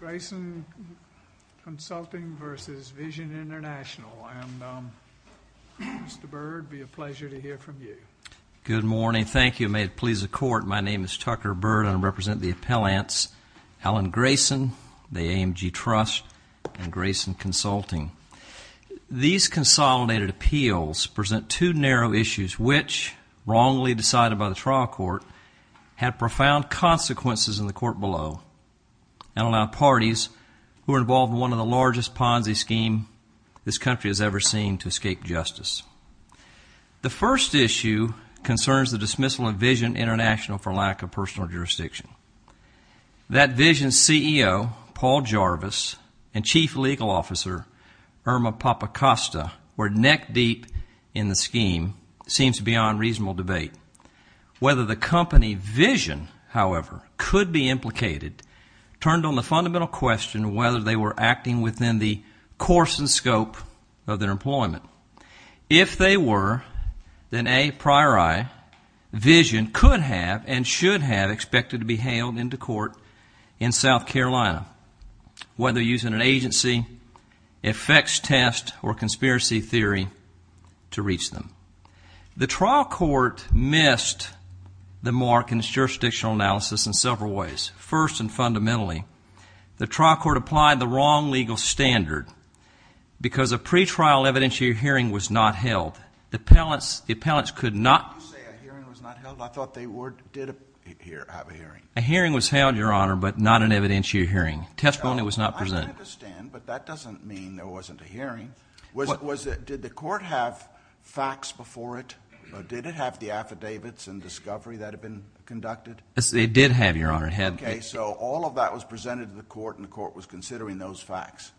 Grayson Consulting v. Vision International, and Mr. Byrd, it would be a pleasure to hear from you. Good morning. Thank you. May it please the Court, my name is Tucker Byrd and I represent the appellants Alan Grayson, the AMG Trust, and Grayson Consulting. These consolidated appeals present two narrow issues which, wrongly decided by the trial court, have profound consequences in the court below and allow parties who are involved in one of the largest Ponzi scheme this country has ever seen to escape justice. The first issue concerns the dismissal of Vision International for lack of personal jurisdiction. That Vision CEO, Paul Jarvis, and Chief Legal Officer, Irma Papacosta, were neck deep in the scheme, seems beyond reasonable debate. Whether the company, Vision, however, could be implicated turned on the fundamental question of whether they were acting within the course and scope of their employment. If they were, then a priori, Vision could have and should have expected to be hailed into court in South Carolina, whether using an agency, effects test, or conspiracy theory to reach them. The trial court missed the mark in its jurisdictional analysis in several ways. First and fundamentally, the trial court applied the wrong legal standard because a pretrial evidentiary hearing was not held. The appellants could not... You say a hearing was not held? I thought they did have a hearing. A hearing was held, Your Honor, but not an evidentiary hearing. Testimony was not presented. I understand, but that doesn't mean there wasn't a hearing. Did the court have facts before it? Did it have the affidavits and discovery that had been conducted? It did have, Your Honor. Okay, so all of that was presented to the court and the court was considering those facts.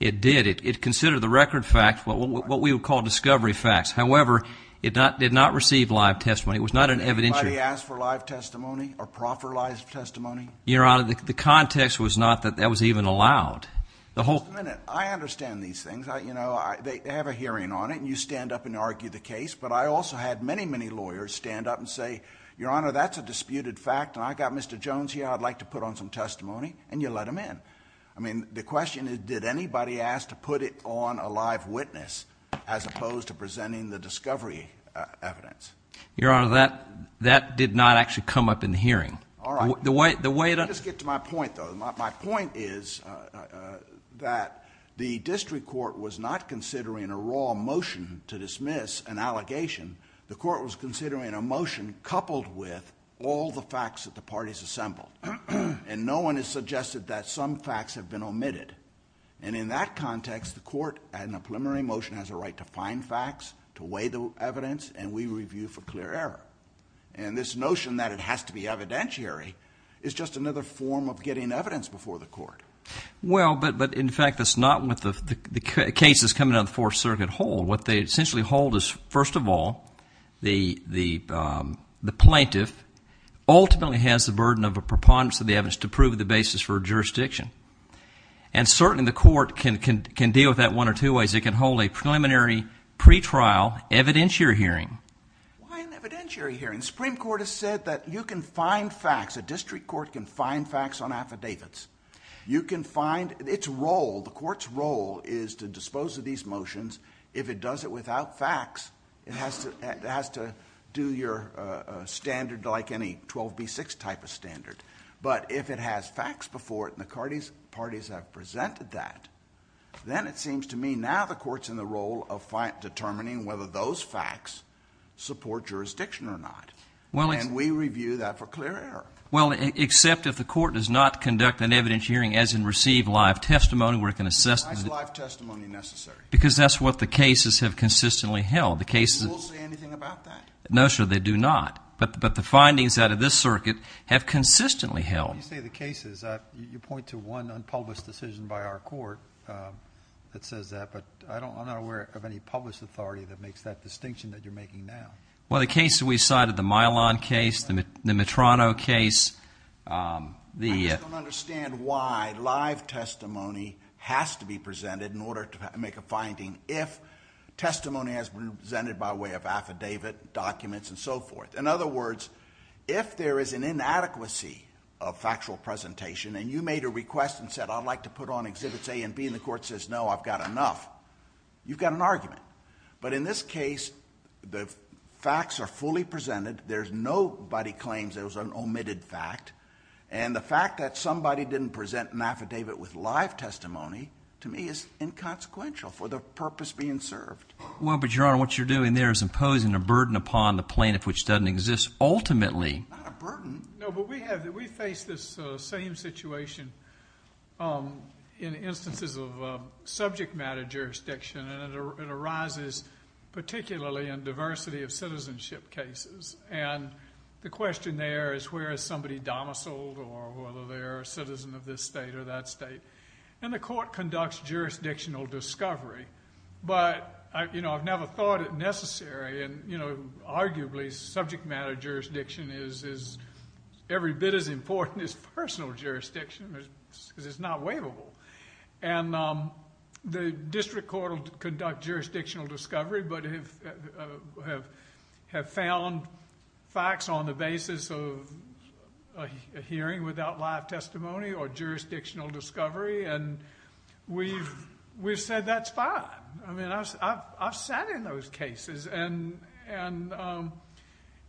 It did. It considered the record facts, what we would call discovery facts. However, it did not receive live testimony. It was not an evidentiary... Did anybody ask for live testimony or proffer live testimony? Your Honor, the context was not that that was even allowed. Just a minute. I understand these things. They have a hearing on it, and you stand up and argue the case, but I also had many, many lawyers stand up and say, Your Honor, that's a disputed fact, and I've got Mr. Jones here. I'd like to put on some testimony, and you let him in. The question is, did anybody ask to put it on a live witness as opposed to presenting the discovery evidence? Your Honor, that did not actually come up in the hearing. All right. The way it... Let me just get to my point, though. My point is that the district court was not considering a raw motion to dismiss an allegation. The court was considering a motion coupled with all the facts that the parties assembled, and no one has suggested that some facts have been omitted. And in that context, the court, in a preliminary motion, has a right to find facts, to weigh the evidence, and we review for clear error. And this notion that it has to be evidentiary is just another form of getting evidence before the court. Well, but, in fact, that's not what the cases coming out of the Fourth Circuit hold. What they essentially hold is, first of all, the plaintiff ultimately has the burden of a preponderance of the evidence to prove the basis for jurisdiction. And certainly the court can deal with that one or two ways. It can hold a preliminary pretrial evidentiary hearing. Why an evidentiary hearing? The Supreme Court has said that you can find facts. A district court can find facts on affidavits. You can find its role. The court's role is to dispose of these motions. If it does it without facts, it has to do your standard like any 12B6 type of standard. But if it has facts before it and the parties have presented that, then it seems to me now the court's in the role of determining whether those facts support jurisdiction or not. And we review that for clear error. Well, except if the court does not conduct an evidentiary hearing, as in receive live testimony where it can assess it. Why is live testimony necessary? Because that's what the cases have consistently held. The cases have consistently held. Do the courts say anything about that? No, sir, they do not. But the findings out of this circuit have consistently held. When you say the cases, you point to one unpublished decision by our court that says that. But I'm not aware of any published authority that makes that distinction that you're making now. Well, the case that we cited, the Milan case, the Mitrano case. I just don't understand why live testimony has to be presented in order to make a finding if testimony has been presented by way of affidavit, documents, and so forth. In other words, if there is an inadequacy of factual presentation and you made a request and said, I'd like to put on exhibits A and B, and the court says, no, I've got enough, you've got an argument. But in this case, the facts are fully presented. There's nobody claims it was an omitted fact. And the fact that somebody didn't present an affidavit with live testimony to me is inconsequential for the purpose being served. Well, but Your Honor, what you're doing there is imposing a burden upon the plaintiff, which doesn't exist ultimately. Not a burden. No, but we face this same situation in instances of subject matter jurisdiction. And it arises particularly in diversity of citizenship cases. And the question there is where is somebody domiciled or whether they're a citizen of this state or that state. And the court conducts jurisdictional discovery. But, you know, I've never thought it necessary. And, you know, arguably subject matter jurisdiction is every bit as important as personal jurisdiction because it's not waivable. And the district court will conduct jurisdictional discovery but have found facts on the basis of a hearing without live testimony or jurisdictional discovery. And we've said that's fine. I mean, I've sat in those cases. And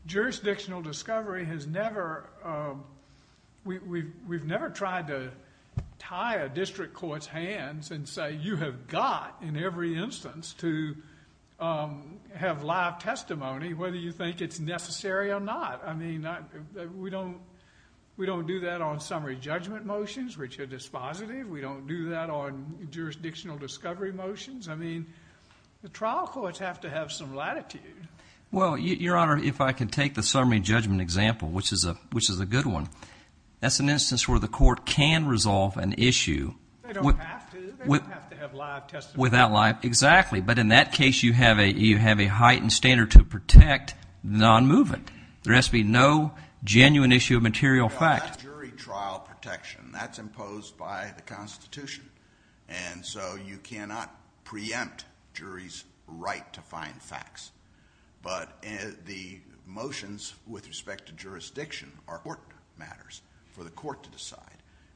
jurisdictional discovery has never, we've never tried to tie a district court's hands and say you have got in every instance to have live testimony whether you think it's necessary or not. I mean, we don't do that on summary judgment motions, which are dispositive. We don't do that on jurisdictional discovery motions. I mean, the trial courts have to have some latitude. Well, Your Honor, if I can take the summary judgment example, which is a good one, that's an instance where the court can resolve an issue. They don't have to. They don't have to have live testimony. Exactly. But in that case you have a heightened standard to protect non-movement. There has to be no genuine issue of material fact. That's jury trial protection. That's imposed by the Constitution. And so you cannot preempt juries' right to find facts. But the motions with respect to jurisdiction are court matters for the court to decide.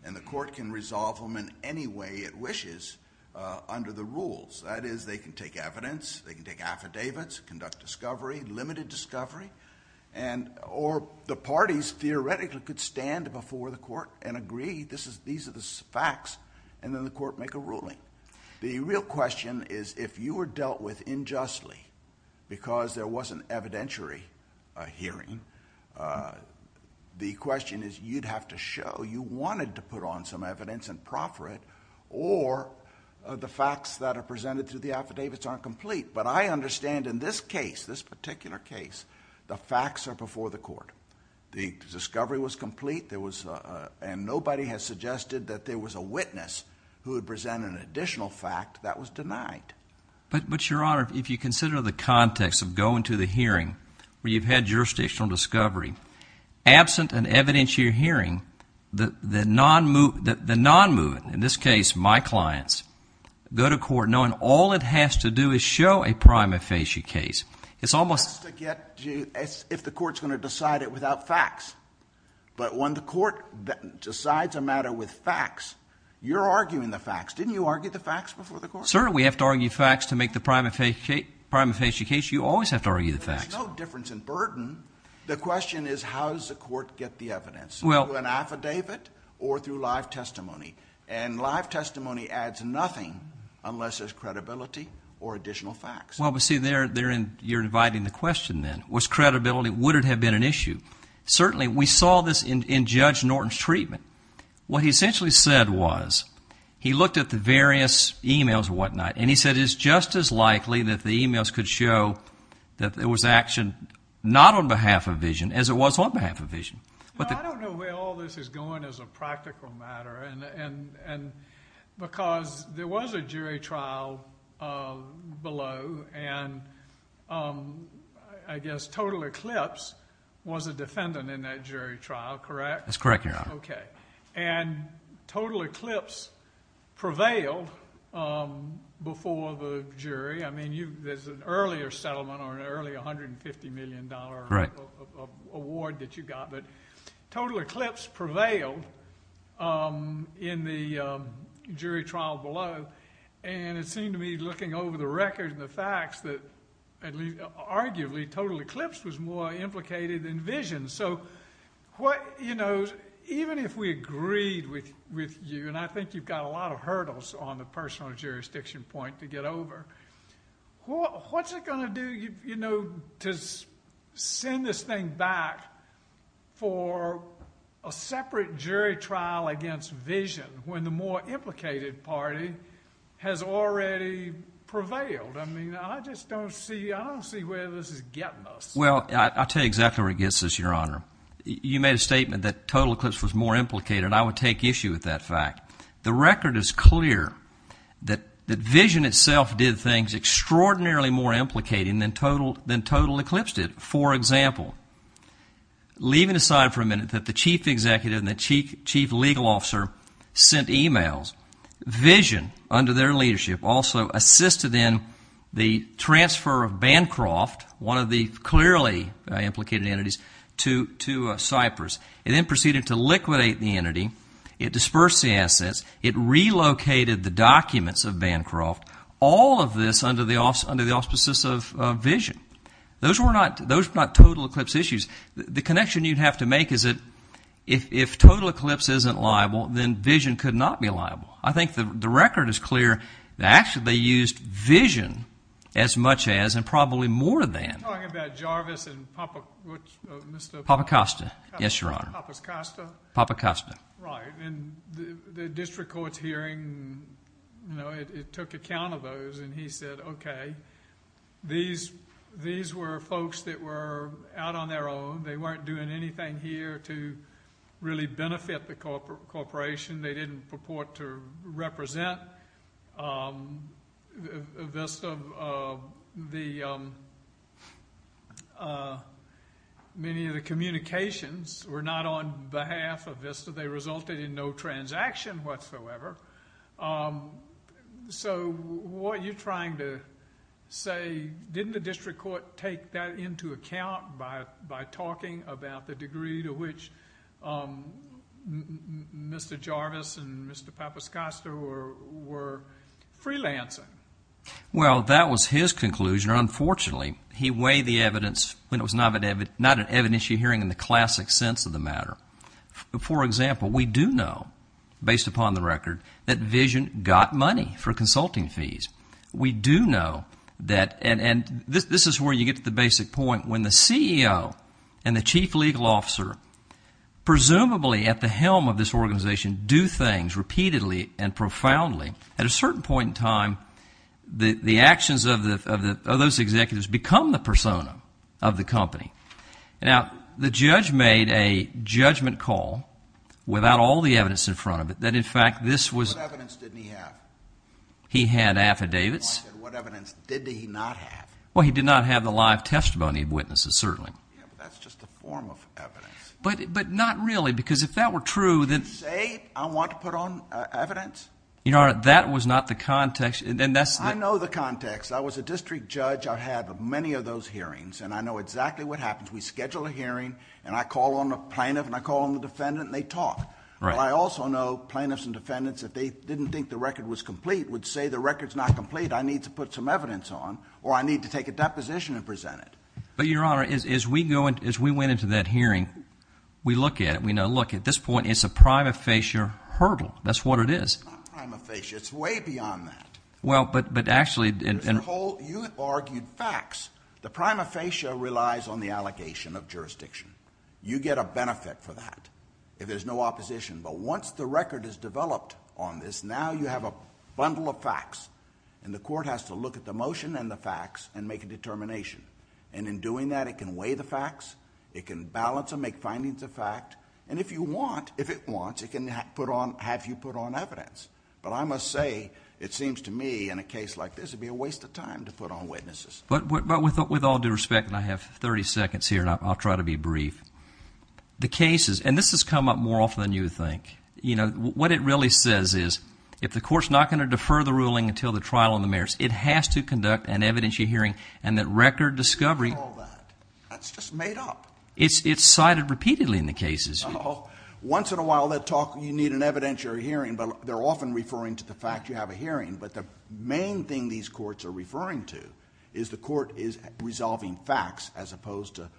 And the court can resolve them in any way it wishes under the rules. That is, they can take evidence. They can take affidavits, conduct discovery, limited discovery. Or the parties theoretically could stand before the court and agree these are the facts, and then the court make a ruling. The real question is if you were dealt with injustly because there wasn't evidentiary hearing, the question is you'd have to show you wanted to put on some evidence and proffer it, or the facts that are presented through the affidavits aren't complete. But I understand in this case, this particular case, the facts are before the court. The discovery was complete, and nobody has suggested that there was a witness who had presented an additional fact that was denied. But, Your Honor, if you consider the context of going to the hearing where you've had jurisdictional discovery, absent an evidentiary hearing, the non-moving, in this case my clients, go to court knowing all it has to do is show a prima facie case. It's almost as if the court's going to decide it without facts. But when the court decides a matter with facts, you're arguing the facts. Didn't you argue the facts before the court? Sir, we have to argue facts to make the prima facie case. You always have to argue the facts. There's no difference in burden. The question is how does the court get the evidence, through an affidavit or through live testimony? And live testimony adds nothing unless there's credibility or additional facts. Well, but see, you're dividing the question then. Was credibility, would it have been an issue? Certainly, we saw this in Judge Norton's treatment. What he essentially said was, he looked at the various e-mails and whatnot, and he said it's just as likely that the e-mails could show that there was action not on behalf of vision as it was on behalf of vision. I don't know where all this is going as a practical matter, because there was a jury trial below, and I guess Total Eclipse was a defendant in that jury trial, correct? That's correct, Your Honor. Okay. There's an earlier settlement or an early $150 million award that you got, but Total Eclipse prevailed in the jury trial below, and it seemed to me, looking over the record and the facts, that arguably, Total Eclipse was more implicated than vision. Even if we agreed with you, and I think you've got a lot of hurdles on the personal jurisdiction point to get over, what's it going to do to send this thing back for a separate jury trial against vision when the more implicated party has already prevailed? I mean, I just don't see where this is getting us. Well, I'll tell you exactly where it gets us, Your Honor. You made a statement that Total Eclipse was more implicated, and I would take issue with that fact. The record is clear that vision itself did things extraordinarily more implicating than Total Eclipse did. For example, leaving aside for a minute that the chief executive and the chief legal officer sent e-mails, vision, under their leadership, also assisted in the transfer of Bancroft, one of the clearly implicated entities, to Cypress. It then proceeded to liquidate the entity. It dispersed the assets. It relocated the documents of Bancroft. All of this under the auspices of vision. Those were not Total Eclipse issues. The connection you'd have to make is that if Total Eclipse isn't liable, then vision could not be liable. I think the record is clear that actually they used vision as much as and probably more than. You're talking about Jarvis and Papa Costa. Yes, Your Honor. Papas Costa. Papa Costa. Right. And the district court's hearing, you know, it took account of those, and he said, okay, these were folks that were out on their own. They weren't doing anything here to really benefit the corporation. They didn't purport to represent VISTA. Many of the communications were not on behalf of VISTA. They resulted in no transaction whatsoever. So what you're trying to say, didn't the district court take that into account by talking about the degree to which Mr. Jarvis and Mr. Papa Costa were freelancing? Well, that was his conclusion. Unfortunately, he weighed the evidence when it was not an evidentiary hearing in the classic sense of the matter. For example, we do know, based upon the record, that vision got money for consulting fees. We do know that, and this is where you get to the basic point, when the CEO and the chief legal officer, presumably at the helm of this organization, do things repeatedly and profoundly, at a certain point in time the actions of those executives become the persona of the company. Now, the judge made a judgment call without all the evidence in front of it that, in fact, this was... What evidence didn't he have? He had affidavits. What evidence did he not have? Well, he did not have the live testimony of witnesses, certainly. Yeah, but that's just a form of evidence. But not really, because if that were true... Did he say, I want to put on evidence? Your Honor, that was not the context. I know the context. I was a district judge. I've had many of those hearings, and I know exactly what happens. We schedule a hearing, and I call on the plaintiff, and I call on the defendant, and they talk. But I also know plaintiffs and defendants, if they didn't think the record was complete, would say the record's not complete. I need to put some evidence on, or I need to take a deposition and present it. But, Your Honor, as we went into that hearing, we look at it. We know, look, at this point it's a prima facie hurdle. That's what it is. It's not prima facie. It's way beyond that. Well, but actually... Mr. Holt, you argued facts. The prima facie relies on the allocation of jurisdiction. You get a benefit for that if there's no opposition. But once the record is developed on this, now you have a bundle of facts. And the court has to look at the motion and the facts and make a determination. And in doing that, it can weigh the facts. It can balance and make findings of fact. And if you want, if it wants, it can have you put on evidence. But I must say, it seems to me in a case like this, it would be a waste of time to put on witnesses. But with all due respect, and I have 30 seconds here and I'll try to be brief, the cases, and this has come up more often than you would think, what it really says is if the court's not going to defer the ruling until the trial on the merits, it has to conduct an evidentiary hearing and that record discovery... What do you call that? That's just made up. It's cited repeatedly in the cases. Once in a while, you need an evidentiary hearing, but they're often referring to the fact you have a hearing. But the main thing these courts are referring to is the court is resolving facts as opposed to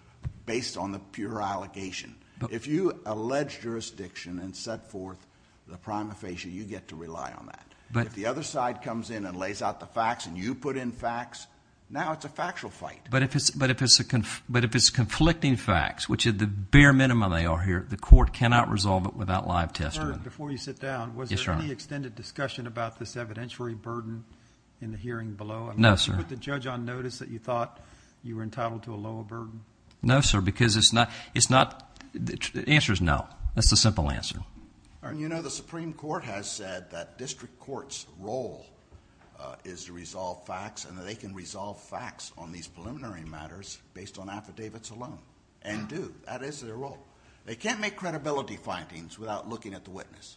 based on the pure allegation. If you allege jurisdiction and set forth the prima facie, you get to rely on that. But if the other side comes in and lays out the facts and you put in facts, now it's a factual fight. But if it's conflicting facts, which at the bare minimum they are here, the court cannot resolve it without live testimony. Before you sit down, was there any extended discussion about this evidentiary burden in the hearing below? No, sir. Did you put the judge on notice that you thought you were entitled to a lower burden? No, sir, because it's not... the answer is no. That's the simple answer. You know, the Supreme Court has said that district courts' role is to resolve facts and that they can resolve facts on these preliminary matters based on affidavits alone, and do. That is their role. They can't make credibility findings without looking at the witness.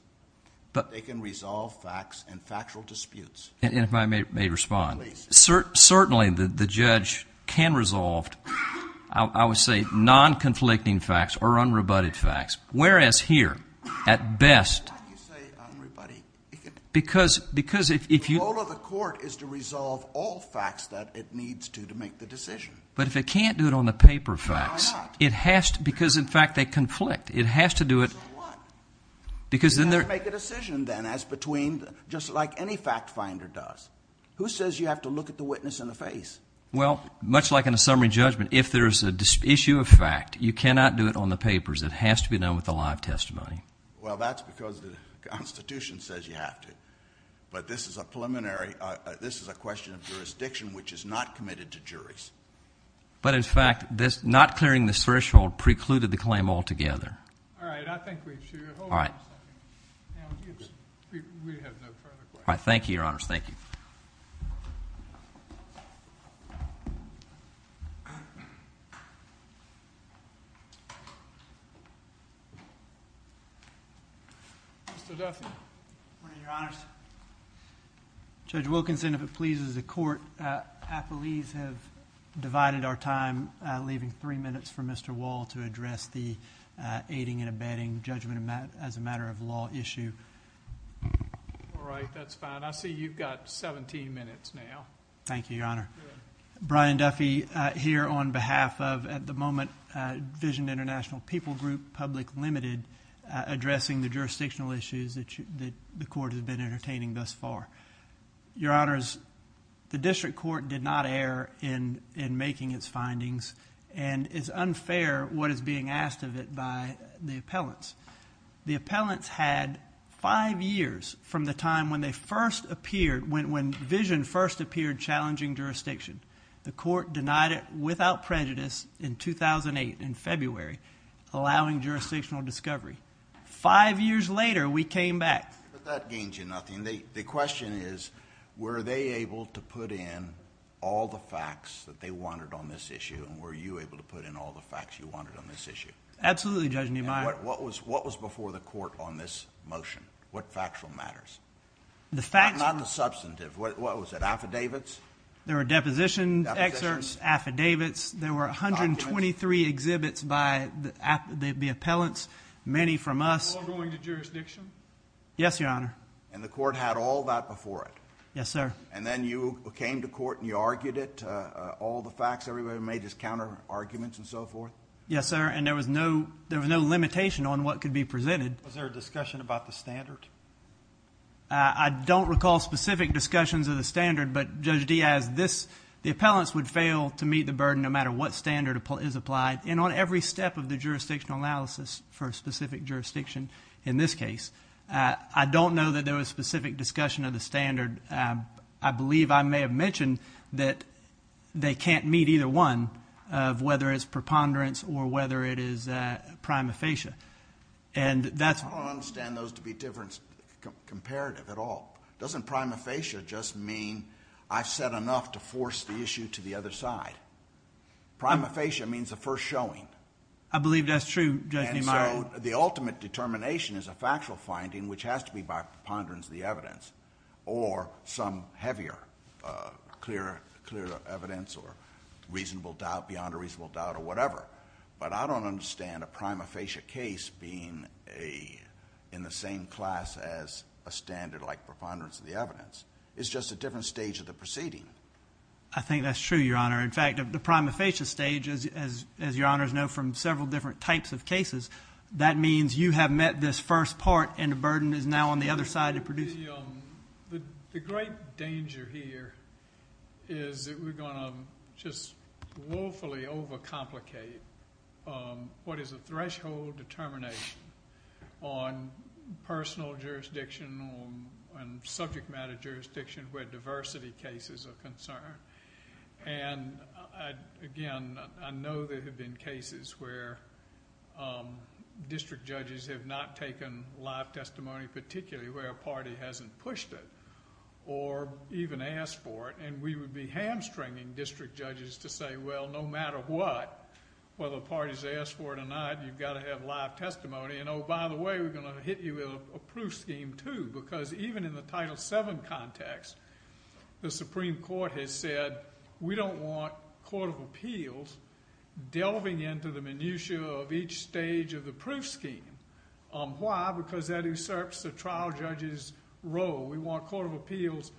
They can resolve facts in factual disputes. And if I may respond. Certainly, the judge can resolve, I would say, non-conflicting facts or unrebutted facts. Whereas here, at best... Why do you say unrebutted? Because if you... The role of the court is to resolve all facts that it needs to to make the decision. But if it can't do it on the paper facts... Why not? It has to... because, in fact, they conflict. It has to do it... So what? Because then there... You have to make a decision then as between... just like any fact finder does. Who says you have to look at the witness in the face? Well, much like in a summary judgment, if there is an issue of fact, you cannot do it on the papers. It has to be done with a live testimony. Well, that's because the Constitution says you have to. But this is a preliminary... This is a question of jurisdiction which is not committed to juries. But, in fact, not clearing this threshold precluded the claim altogether. All right. I think we should... All right. We have no further questions. All right. Thank you, Your Honors. Thank you. Mr. Duffy. Your Honors. Judge Wilkinson, if it pleases the Court, appellees have divided our time leaving three minutes for Mr. Wall to address the aiding and abetting judgment as a matter of law issue. All right. That's fine. I see you've got 17 minutes now. Thank you, Your Honor. Brian Duffy here on behalf of, at the moment, Vision International People Group, Public Limited, addressing the jurisdictional issues that the Court has been entertaining thus far. Your Honors, the District Court did not err in making its findings, and it's unfair what is being asked of it by the appellants. The appellants had five years from the time when Vision first appeared challenging jurisdiction. The Court denied it without prejudice in 2008, in February, allowing jurisdictional discovery. Five years later, we came back. But that gains you nothing. The question is, were they able to put in all the facts that they wanted on this issue, and were you able to put in all the facts you wanted on this issue? Absolutely, Judge Niemeyer. What was before the Court on this motion? What factual matters? Not the substantive. What was it, affidavits? There were deposition excerpts, affidavits. There were 123 exhibits by the appellants, many from us. All going to jurisdiction? Yes, Your Honor. And the Court had all that before it? Yes, sir. And then you came to Court and you argued it, all the facts, everybody made his counterarguments and so forth? Yes, sir. And there was no limitation on what could be presented. Was there a discussion about the standard? I don't recall specific discussions of the standard, but Judge Diaz, the appellants would fail to meet the burden no matter what standard is applied, and on every step of the jurisdictional analysis for a specific jurisdiction in this case. I don't know that there was specific discussion of the standard. I believe I may have mentioned that they can't meet either one, whether it's preponderance or whether it is prima facie. I don't understand those to be different, comparative at all. Doesn't prima facie just mean I've said enough to force the issue to the other side? Prima facie means the first showing. I believe that's true, Judge Neumeyer. And so the ultimate determination is a factual finding, which has to be by preponderance the evidence, or some heavier clear evidence or reasonable doubt, beyond a reasonable doubt or whatever. But I don't understand a prima facie case being in the same class as a standard like preponderance of the evidence. It's just a different stage of the proceeding. I think that's true, Your Honor. In fact, the prima facie stage, as Your Honors know from several different types of cases, that means you have met this first part and the burden is now on the other side. The great danger here is that we're going to just woefully overcomplicate what is a threshold determination on personal jurisdiction, on subject matter jurisdiction where diversity cases are concerned. Again, I know there have been cases where district judges have not taken live testimony, particularly where a party hasn't pushed it or even asked for it. And we would be hamstringing district judges to say, well, no matter what, whether a party has asked for it or not, you've got to have live testimony. And, oh, by the way, we're going to hit you with a proof scheme, too, because even in the Title VII context, the Supreme Court has said, we don't want court of appeals delving into the minutia of each stage of the proof scheme. Why? Because that usurps the trial judge's role. We want court of appeals,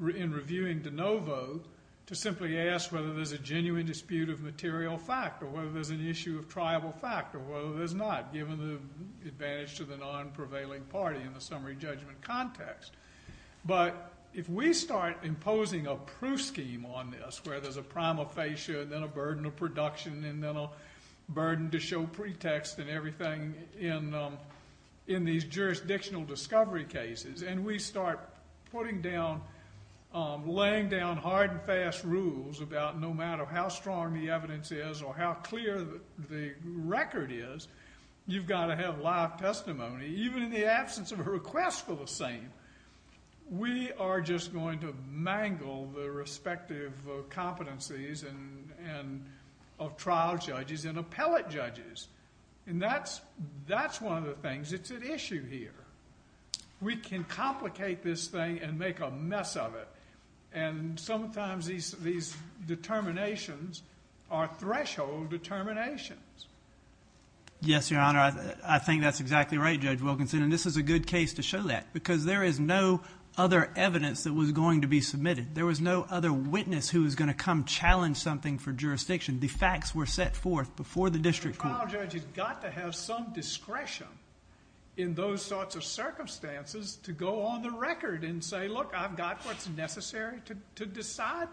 in reviewing de novo, to simply ask whether there's a genuine dispute of material fact or whether there's an issue of triable fact or whether there's not, given the advantage to the non-prevailing party in the summary judgment context. But if we start imposing a proof scheme on this, where there's a prima facie and then a burden of production and then a burden to show pretext and everything in these jurisdictional discovery cases, and we start putting down, laying down hard and fast rules about no matter how strong the evidence is or how clear the record is, you've got to have live testimony, even in the absence of a request for the same. We are just going to mangle the respective competencies of trial judges and appellate judges. And that's one of the things that's at issue here. We can complicate this thing and make a mess of it. And sometimes these determinations are threshold determinations. Yes, Your Honor, I think that's exactly right, Judge Wilkinson, and this is a good case to show that because there is no other evidence that was going to be submitted. There was no other witness who was going to come challenge something for jurisdiction. The facts were set forth before the district court. A trial judge has got to have some discretion in those sorts of circumstances to go on the record and say, look, I've got what's necessary to decide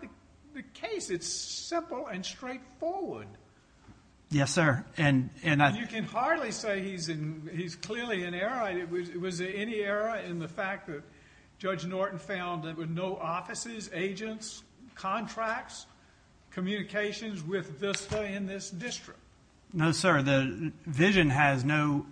the case. It's simple and straightforward. Yes, sir. You can hardly say he's clearly in error. Was there any error in the fact that Judge Norton found there were no offices, agents, contracts, communications with VISTA in this district? No, sir. The vision has no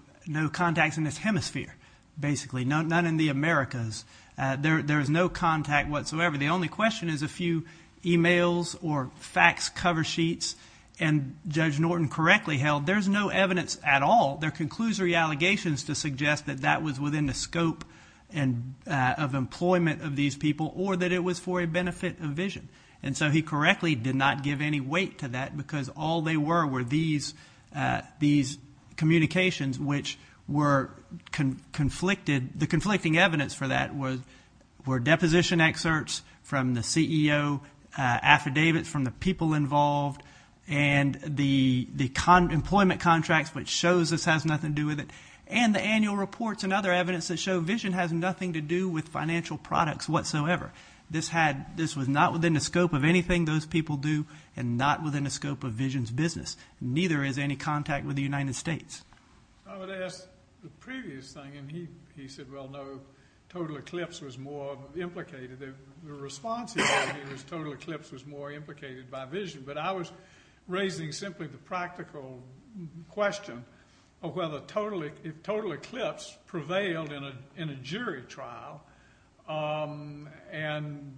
contacts in this hemisphere, basically, none in the Americas. There is no contact whatsoever. The only question is a few e-mails or fax cover sheets. And Judge Norton correctly held there's no evidence at all. There are conclusory allegations to suggest that that was within the scope of employment of these people or that it was for a benefit of vision. And so he correctly did not give any weight to that because all they were were these communications which were conflicted. The conflicting evidence for that were deposition excerpts from the CEO, affidavits from the people involved, and the employment contracts, which shows this has nothing to do with it, and the annual reports and other evidence that show vision has nothing to do with financial products whatsoever. This was not within the scope of anything those people do and not within the scope of vision's business. Neither is any contact with the United States. I would ask the previous thing, and he said, well, no, total eclipse was more implicated. The response he gave was total eclipse was more implicated by vision. But I was raising simply the practical question of whether total eclipse prevailed in a jury trial. And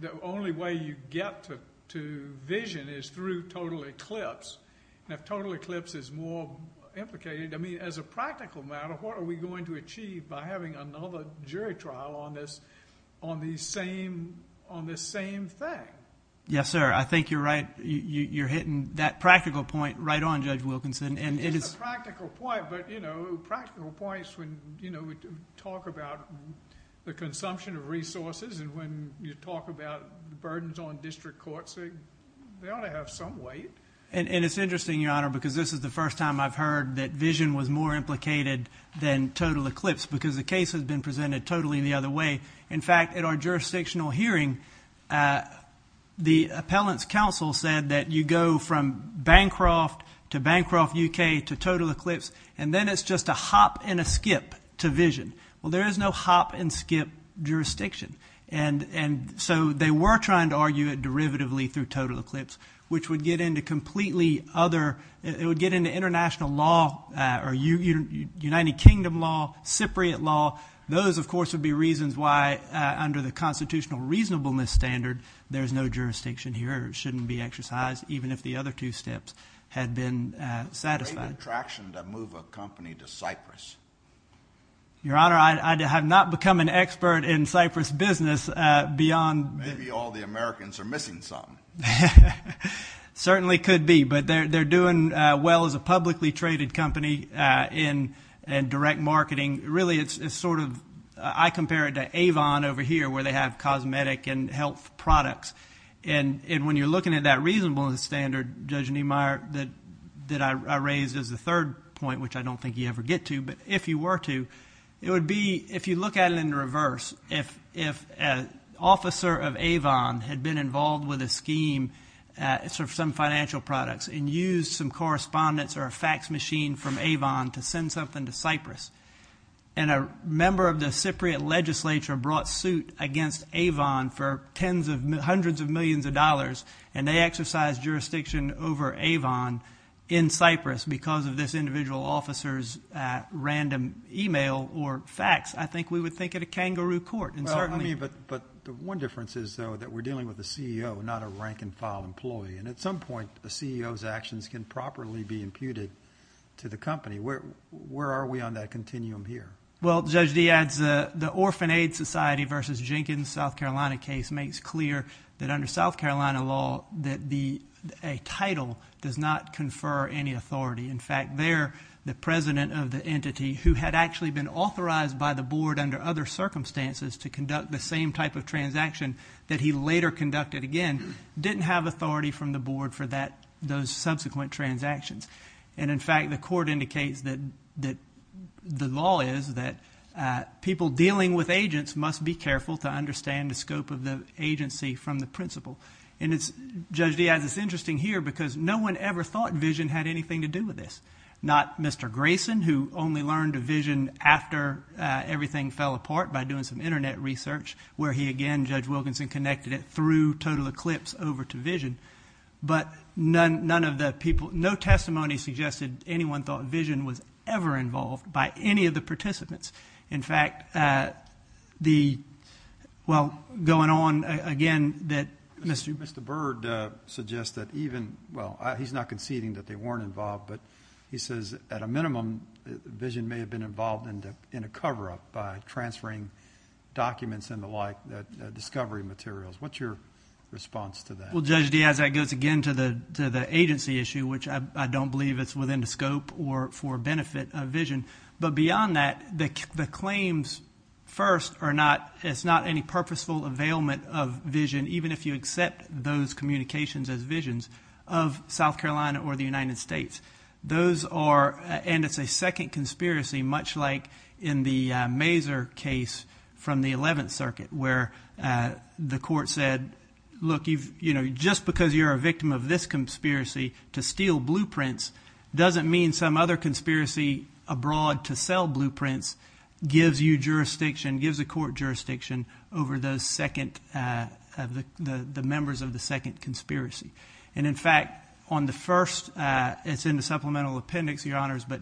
the only way you get to vision is through total eclipse. And if total eclipse is more implicated, I mean, as a practical matter, what are we going to achieve by having another jury trial on this same thing? Yes, sir. I think you're right. You're hitting that practical point right on, Judge Wilkinson. It is a practical point, but, you know, practical points when, you know, we talk about the consumption of resources and when you talk about the burdens on district courts, they ought to have some weight. And it's interesting, Your Honor, because this is the first time I've heard that vision was more implicated than total eclipse because the case has been presented totally the other way. In fact, at our jurisdictional hearing, the appellant's counsel said that you go from Bancroft to Bancroft, U.K. to total eclipse, and then it's just a hop and a skip to vision. Well, there is no hop and skip jurisdiction. And so they were trying to argue it derivatively through total eclipse, which would get into completely other, it would get into international law or United Kingdom law, Cypriot law. Those, of course, would be reasons why, under the constitutional reasonableness standard, there's no jurisdiction here. It shouldn't be exercised, even if the other two steps had been satisfied. It's a great attraction to move a company to Cyprus. Your Honor, I have not become an expert in Cyprus business beyond. Maybe all the Americans are missing something. It certainly could be, but they're doing well as a publicly traded company in direct marketing. Really, it's sort of, I compare it to Avon over here, where they have cosmetic and health products. And when you're looking at that reasonableness standard, Judge Niemeyer, that I raised as the third point, which I don't think you ever get to, but if you were to, it would be, if you look at it in reverse, if an officer of Avon had been involved with a scheme, some financial products, and used some correspondence or a fax machine from Avon to send something to Cyprus, and a member of the Cypriot legislature brought suit against Avon for hundreds of millions of dollars, and they exercised jurisdiction over Avon in Cyprus because of this individual officer's random e-mail or fax, I think we would think of a kangaroo court. But the one difference is, though, that we're dealing with a CEO, not a rank-and-file employee. And at some point, a CEO's actions can properly be imputed to the company. Where are we on that continuum here? Well, Judge Dee adds, the Orphan Aid Society v. Jenkins, South Carolina case, makes clear that under South Carolina law that a title does not confer any authority. In fact, there, the president of the entity, who had actually been authorized by the board under other circumstances to conduct the same type of transaction that he later conducted again, didn't have authority from the board for those subsequent transactions. And, in fact, the court indicates that the law is that people dealing with agents must be careful to understand the scope of the agency from the principle. And Judge Dee adds, it's interesting here because no one ever thought vision had anything to do with this. Not Mr. Grayson, who only learned of vision after everything fell apart by doing some Internet research, where he again, Judge Wilkinson, connected it through total eclipse over to vision. But none of the people, no testimony suggested anyone thought vision was ever involved by any of the participants. In fact, the, well, going on again, that Mr. Mr. Bird suggests that even, well, he's not conceding that they weren't involved, but he says at a minimum vision may have been involved in a cover-up by transferring documents and the like, discovery materials. What's your response to that? Well, Judge Dee, as that goes again to the agency issue, which I don't believe it's within the scope or for benefit of vision. But beyond that, the claims first are not, it's not any purposeful availment of vision, even if you accept those communications as visions of South Carolina or the United States. Those are, and it's a second conspiracy, much like in the Mazer case from the 11th Circuit, where the court said, look, you know, just because you're a victim of this conspiracy to steal blueprints, doesn't mean some other conspiracy abroad to sell blueprints gives you jurisdiction, gives the court jurisdiction over the members of the second conspiracy. And, in fact, on the first, it's in the supplemental appendix, Your Honors, but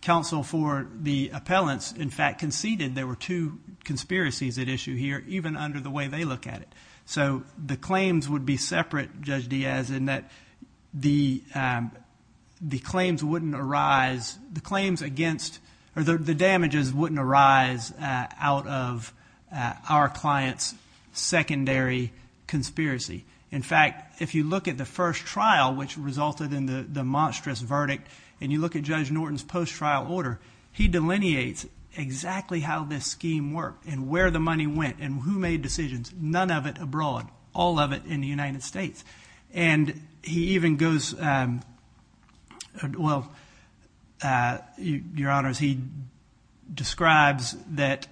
counsel for the appellants, in fact, conceded there were two conspiracies at issue here, even under the way they look at it. So the claims would be separate, Judge Diaz, in that the claims wouldn't arise, the claims against, or the damages wouldn't arise out of our client's secondary conspiracy. In fact, if you look at the first trial, which resulted in the monstrous verdict, and you look at Judge Norton's post-trial order, he delineates exactly how this scheme worked and where the money went and who made decisions, none of it abroad, all of it in the United States. And he even goes, well, Your Honors, he describes that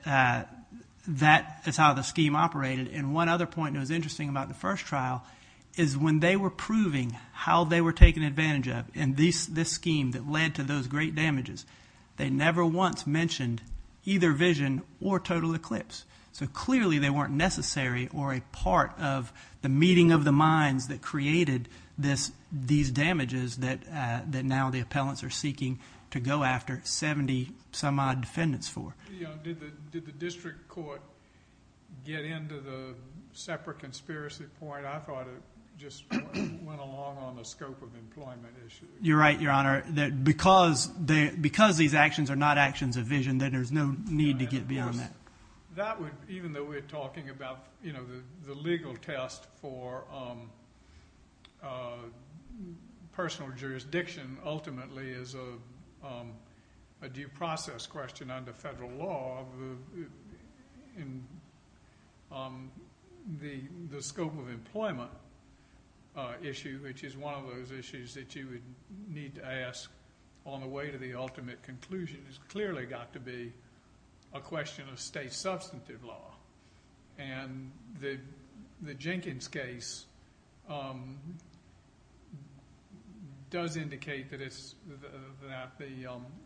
that is how the scheme operated. And one other point that was interesting about the first trial is when they were proving how they were taken advantage of in this scheme that led to those great damages, they never once mentioned either vision or total eclipse. So clearly they weren't necessary or a part of the meeting of the minds that created these damages that now the appellants are seeking to go after 70-some-odd defendants for. Did the district court get into the separate conspiracy point? I thought it just went along on the scope of employment issue. You're right, Your Honor, that because these actions are not actions of vision, then there's no need to get beyond that. Even though we're talking about the legal test for personal jurisdiction ultimately is a due process question under federal law, the scope of employment issue, which is one of those issues that you would need to ask on the way to the ultimate conclusion, has clearly got to be a question of state substantive law. And the Jenkins case does indicate that the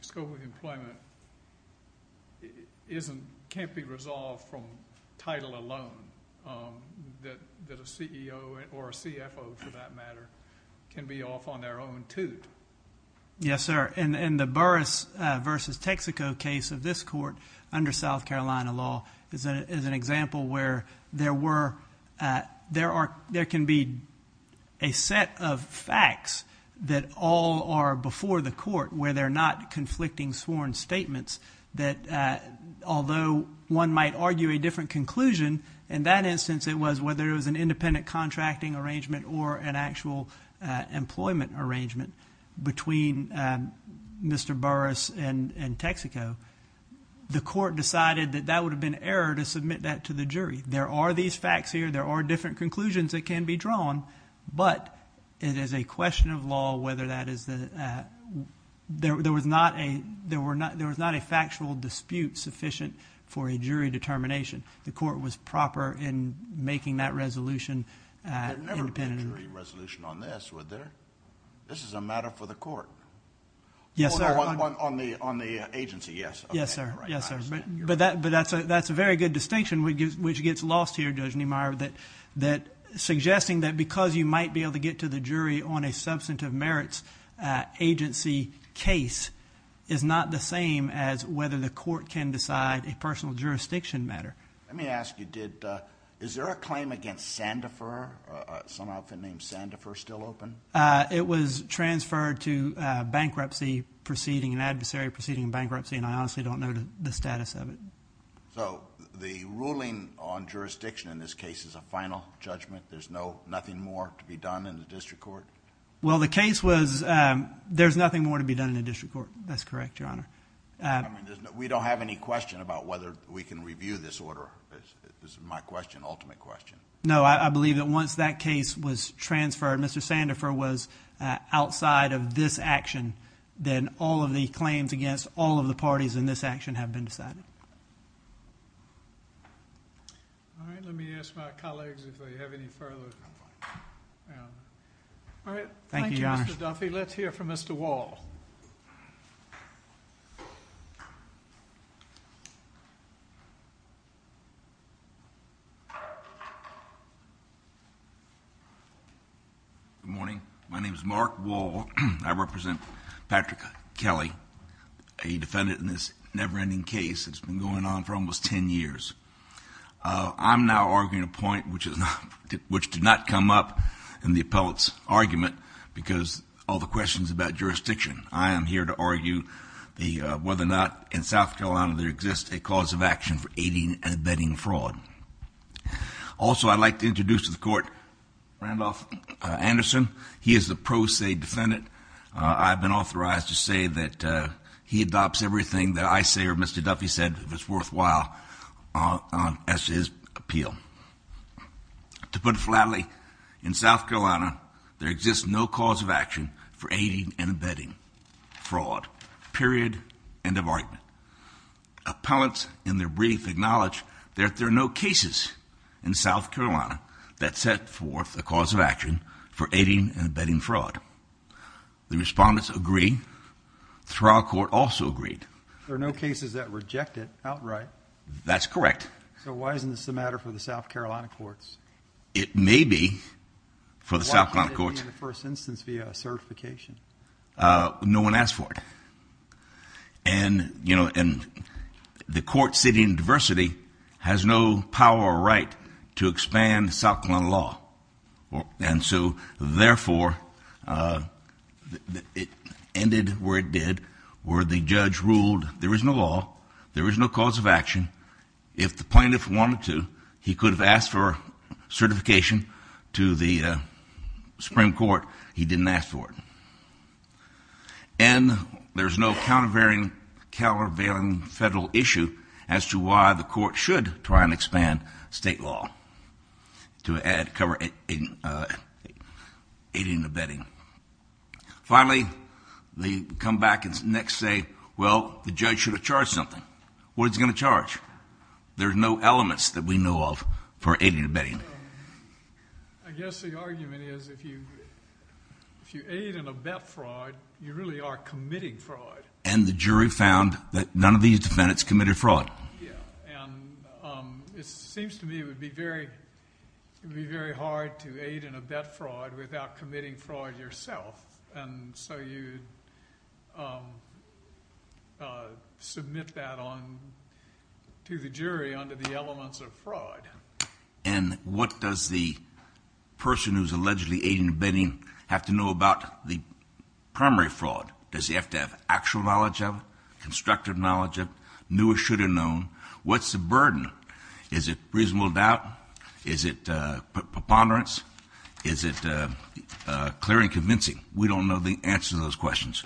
scope of employment can't be resolved from title alone, that a CEO or a CFO, for that matter, can be off on their own two. Yes, sir. In the Burris v. Texaco case of this court under South Carolina law is an example where there can be a set of facts that all are before the court where they're not conflicting sworn statements that although one might argue a different conclusion, in that instance it was whether it was an independent contracting arrangement or an actual employment arrangement between Mr. Burris and Texaco, the court decided that that would have been error to submit that to the jury. There are these facts here. There are different conclusions that can be drawn, but it is a question of law whether that is the – there was not a factual dispute sufficient for a jury determination. The court was proper in making that resolution independent. There never was a jury resolution on this, was there? This is a matter for the court. Yes, sir. On the agency, yes. Yes, sir. But that's a very good distinction which gets lost here, Judge Niemeyer, that suggesting that because you might be able to get to the jury on a substantive merits agency case is not the same as whether the court can decide a personal jurisdiction matter. Let me ask you, is there a claim against Sandifer, some outfit named Sandifer, still open? It was transferred to bankruptcy proceeding, an adversary proceeding bankruptcy, and I honestly don't know the status of it. So the ruling on jurisdiction in this case is a final judgment? There's nothing more to be done in the district court? Well, the case was there's nothing more to be done in the district court. That's correct, Your Honor. We don't have any question about whether we can review this order. This is my question, ultimate question. No, I believe that once that case was transferred, Mr. Sandifer was outside of this action, then all of the claims against all of the parties in this action have been decided. All right. Let me ask my colleagues if they have any further. All right. Thank you, Your Honor. Thank you, Mr. Duffy. Let's hear from Mr. Wall. Good morning. My name is Mark Wall. I represent Patrick Kelly, a defendant in this never-ending case. It's been going on for almost 10 years. I'm now arguing a point which did not come up in the appellate's argument because all the questions about jurisdiction. I am here to argue whether or not in South Carolina there exists a cause of action for aiding and abetting fraud. Also, I'd like to introduce to the court Randolph Anderson. He is the pro se defendant. I've been authorized to say that he adopts everything that I say or Mr. Duffy said was worthwhile as his appeal. To put it flatly, in South Carolina, there exists no cause of action for aiding and abetting fraud, period, end of argument. Appellants in their brief acknowledge that there are no cases in South Carolina that set forth a cause of action for aiding and abetting fraud. The respondents agree. The trial court also agreed. There are no cases that reject it outright. That's correct. So why isn't this a matter for the South Carolina courts? It may be for the South Carolina courts. Why can't it be in the first instance via certification? No one asked for it. And the court sitting in diversity has no power or right to expand South Carolina law. And so, therefore, it ended where it did, where the judge ruled there is no law, there is no cause of action. If the plaintiff wanted to, he could have asked for certification to the Supreme Court. He didn't ask for it. And there's no countervailing federal issue as to why the court should try and expand state law to cover aiding and abetting. Finally, they come back the next day, well, the judge should have charged something. What is he going to charge? There's no elements that we know of for aiding and abetting. I guess the argument is if you aid and abet fraud, you really are committing fraud. And the jury found that none of these defendants committed fraud. Yeah, and it seems to me it would be very hard to aid and abet fraud without committing fraud yourself. And so you submit that to the jury under the elements of fraud. And what does the person who's allegedly aiding and abetting have to know about the primary fraud? Does he have to have actual knowledge of it? Constructive knowledge of it? Knew or should have known? What's the burden? Is it reasonable doubt? Is it preponderance? Is it clear and convincing? We don't know the answer to those questions.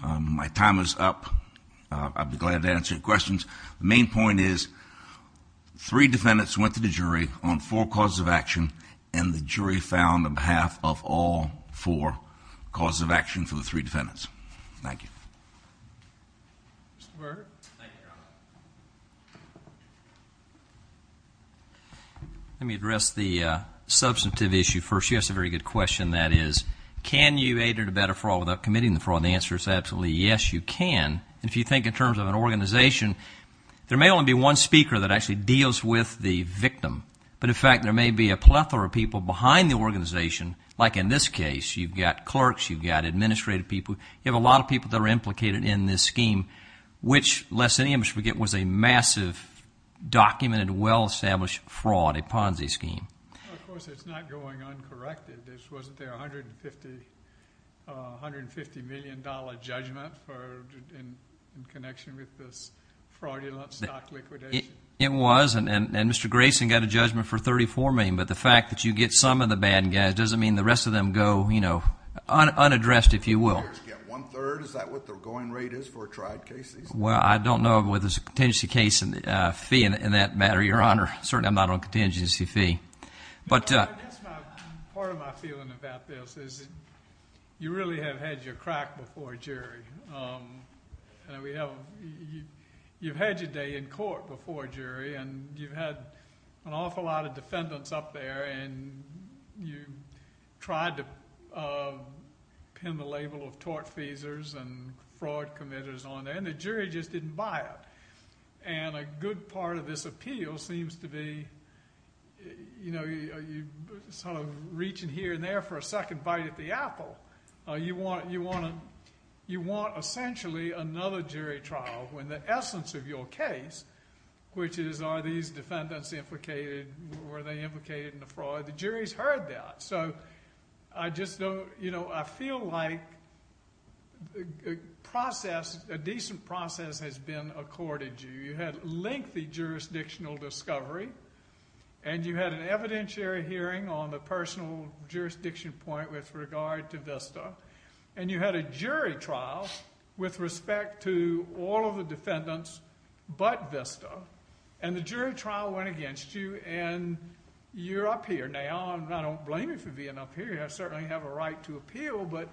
My time is up. I'll be glad to answer your questions. The main point is three defendants went to the jury on four causes of action, and the jury found on behalf of all four causes of action for the three defendants. Thank you. Let me address the substantive issue first. Yes, a very good question, that is, can you aid and abet a fraud without committing the fraud? The answer is absolutely yes, you can. If you think in terms of an organization, there may only be one speaker that actually deals with the victim. But, in fact, there may be a plethora of people behind the organization, like in this case. You've got clerks. You've got administrative people. You have a lot of people that are implicated in this scheme, which, lest any of us forget, was a massive, documented, well-established fraud, a Ponzi scheme. Of course, it's not going uncorrected. Wasn't there a $150 million judgment in connection with this fraudulent stock liquidation? It was, and Mr. Grayson got a judgment for $34 million. But the fact that you get some of the bad guys doesn't mean the rest of them go unaddressed, if you will. One-third? Is that what their going rate is for a tried case? Well, I don't know whether there's a contingency case fee in that matter, Your Honor. Certainly, I'm not on a contingency fee. Part of my feeling about this is you really have had your crack before a jury. You've had your day in court before a jury, and you've had an awful lot of defendants up there, and you've tried to pin the label of tort feasers and fraud committers on there, and the jury just didn't buy it. And a good part of this appeal seems to be reaching here and there for a second bite at the apple. You want, essentially, another jury trial when the essence of your case, which is, are these defendants implicated? Were they implicated in the fraud? The jury's heard that. I feel like a decent process has been accorded to you. You had lengthy jurisdictional discovery, and you had an evidentiary hearing on the personal jurisdiction point with regard to VISTA, and you had a jury trial with respect to all of the defendants but VISTA, and the jury trial went against you, and you're up here now. I don't blame you for being up here. I certainly have a right to appeal, but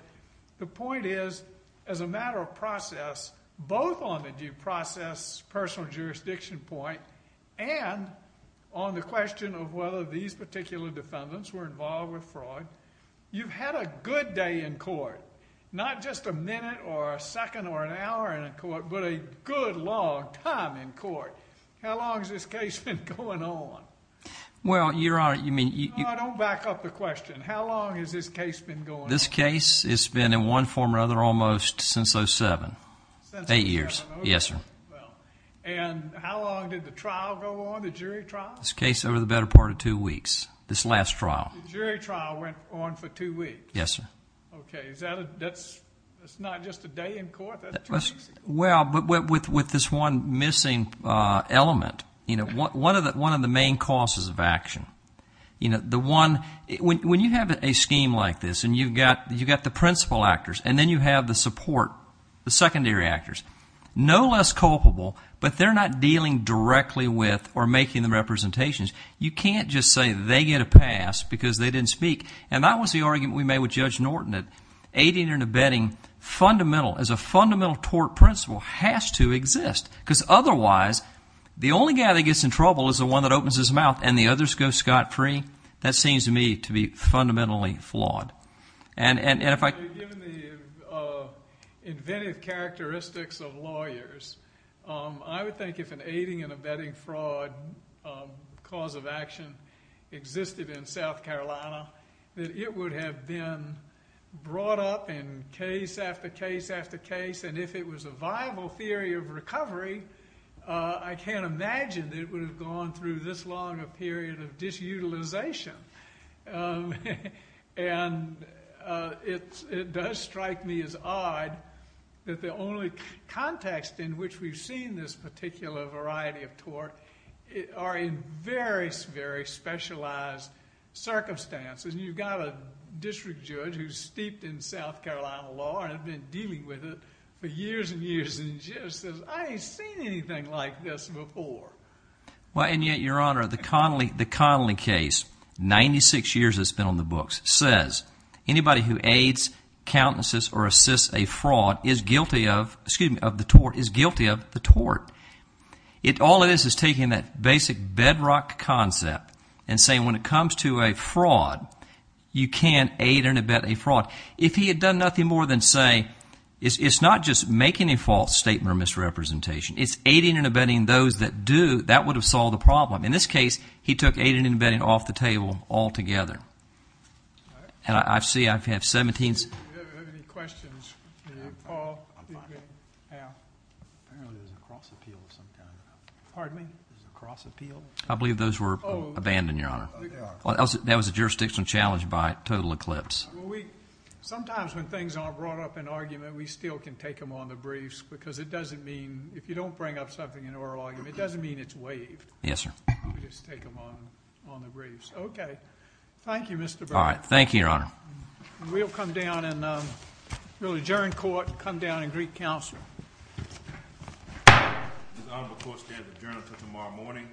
the point is, as a matter of process, both on the due process personal jurisdiction point and on the question of whether these particular defendants were involved with fraud, you've had a good day in court, not just a minute or a second or an hour in court, but a good long time in court. How long has this case been going on? Don't back up the question. How long has this case been going on? This case has been in one form or another almost since 07. Eight years. Yes, sir. And how long did the trial go on, the jury trial? This case over the better part of two weeks, this last trial. The jury trial went on for two weeks? Yes, sir. Okay. That's not just a day in court? Well, but with this one missing element. One of the main causes of action. When you have a scheme like this and you've got the principal actors and then you have the support, the secondary actors, no less culpable, but they're not dealing directly with or making the representations, you can't just say they get a pass because they didn't speak. And that was the argument we made with Judge Norton, that aiding and abetting as a fundamental tort principle has to exist, because otherwise the only guy that gets in trouble is the one that opens his mouth and the others go scot-free. That seems to me to be fundamentally flawed. Given the inventive characteristics of lawyers, I would think if an aiding and abetting fraud cause of action existed in South Carolina, that it would have been brought up in case after case after case, and if it was a viable theory of recovery, I can't imagine it would have gone through this long a period of disutilization. And it does strike me as odd that the only context in which we've seen this particular variety of tort are in very, very specialized circumstances. You've got a district judge who's steeped in South Carolina law and has been dealing with it for years and years, and he just says, I ain't seen anything like this before. Well, and yet, Your Honor, the Connolly case, 96 years it's been on the books, says anybody who aids, countenances, or assists a fraud is guilty of the tort. All it is is taking that basic bedrock concept and saying when it comes to a fraud, you can't aid or abet a fraud. If he had done nothing more than say, it's not just making a false statement or misrepresentation, it's aiding and abetting those that do, that would have solved the problem. In this case, he took aiding and abetting off the table altogether. And I see I have 17. Do we have any questions? Paul? Al? I know there's a cross appeal of some kind. Pardon me? There's a cross appeal? I believe those were abandoned, Your Honor. That was a jurisdictional challenge by total eclipse. Sometimes when things aren't brought up in argument, we still can take them on the briefs because it doesn't mean, if you don't bring up something in oral argument, it doesn't mean it's waived. Yes, sir. We just take them on the briefs. Okay. Thank you, Mr. Brown. All right. Thank you, Your Honor. We'll come down and we'll adjourn court and come down and greet counsel. This honorable court stands adjourned until tomorrow morning.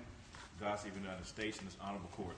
Dossie, United States, in this honorable court.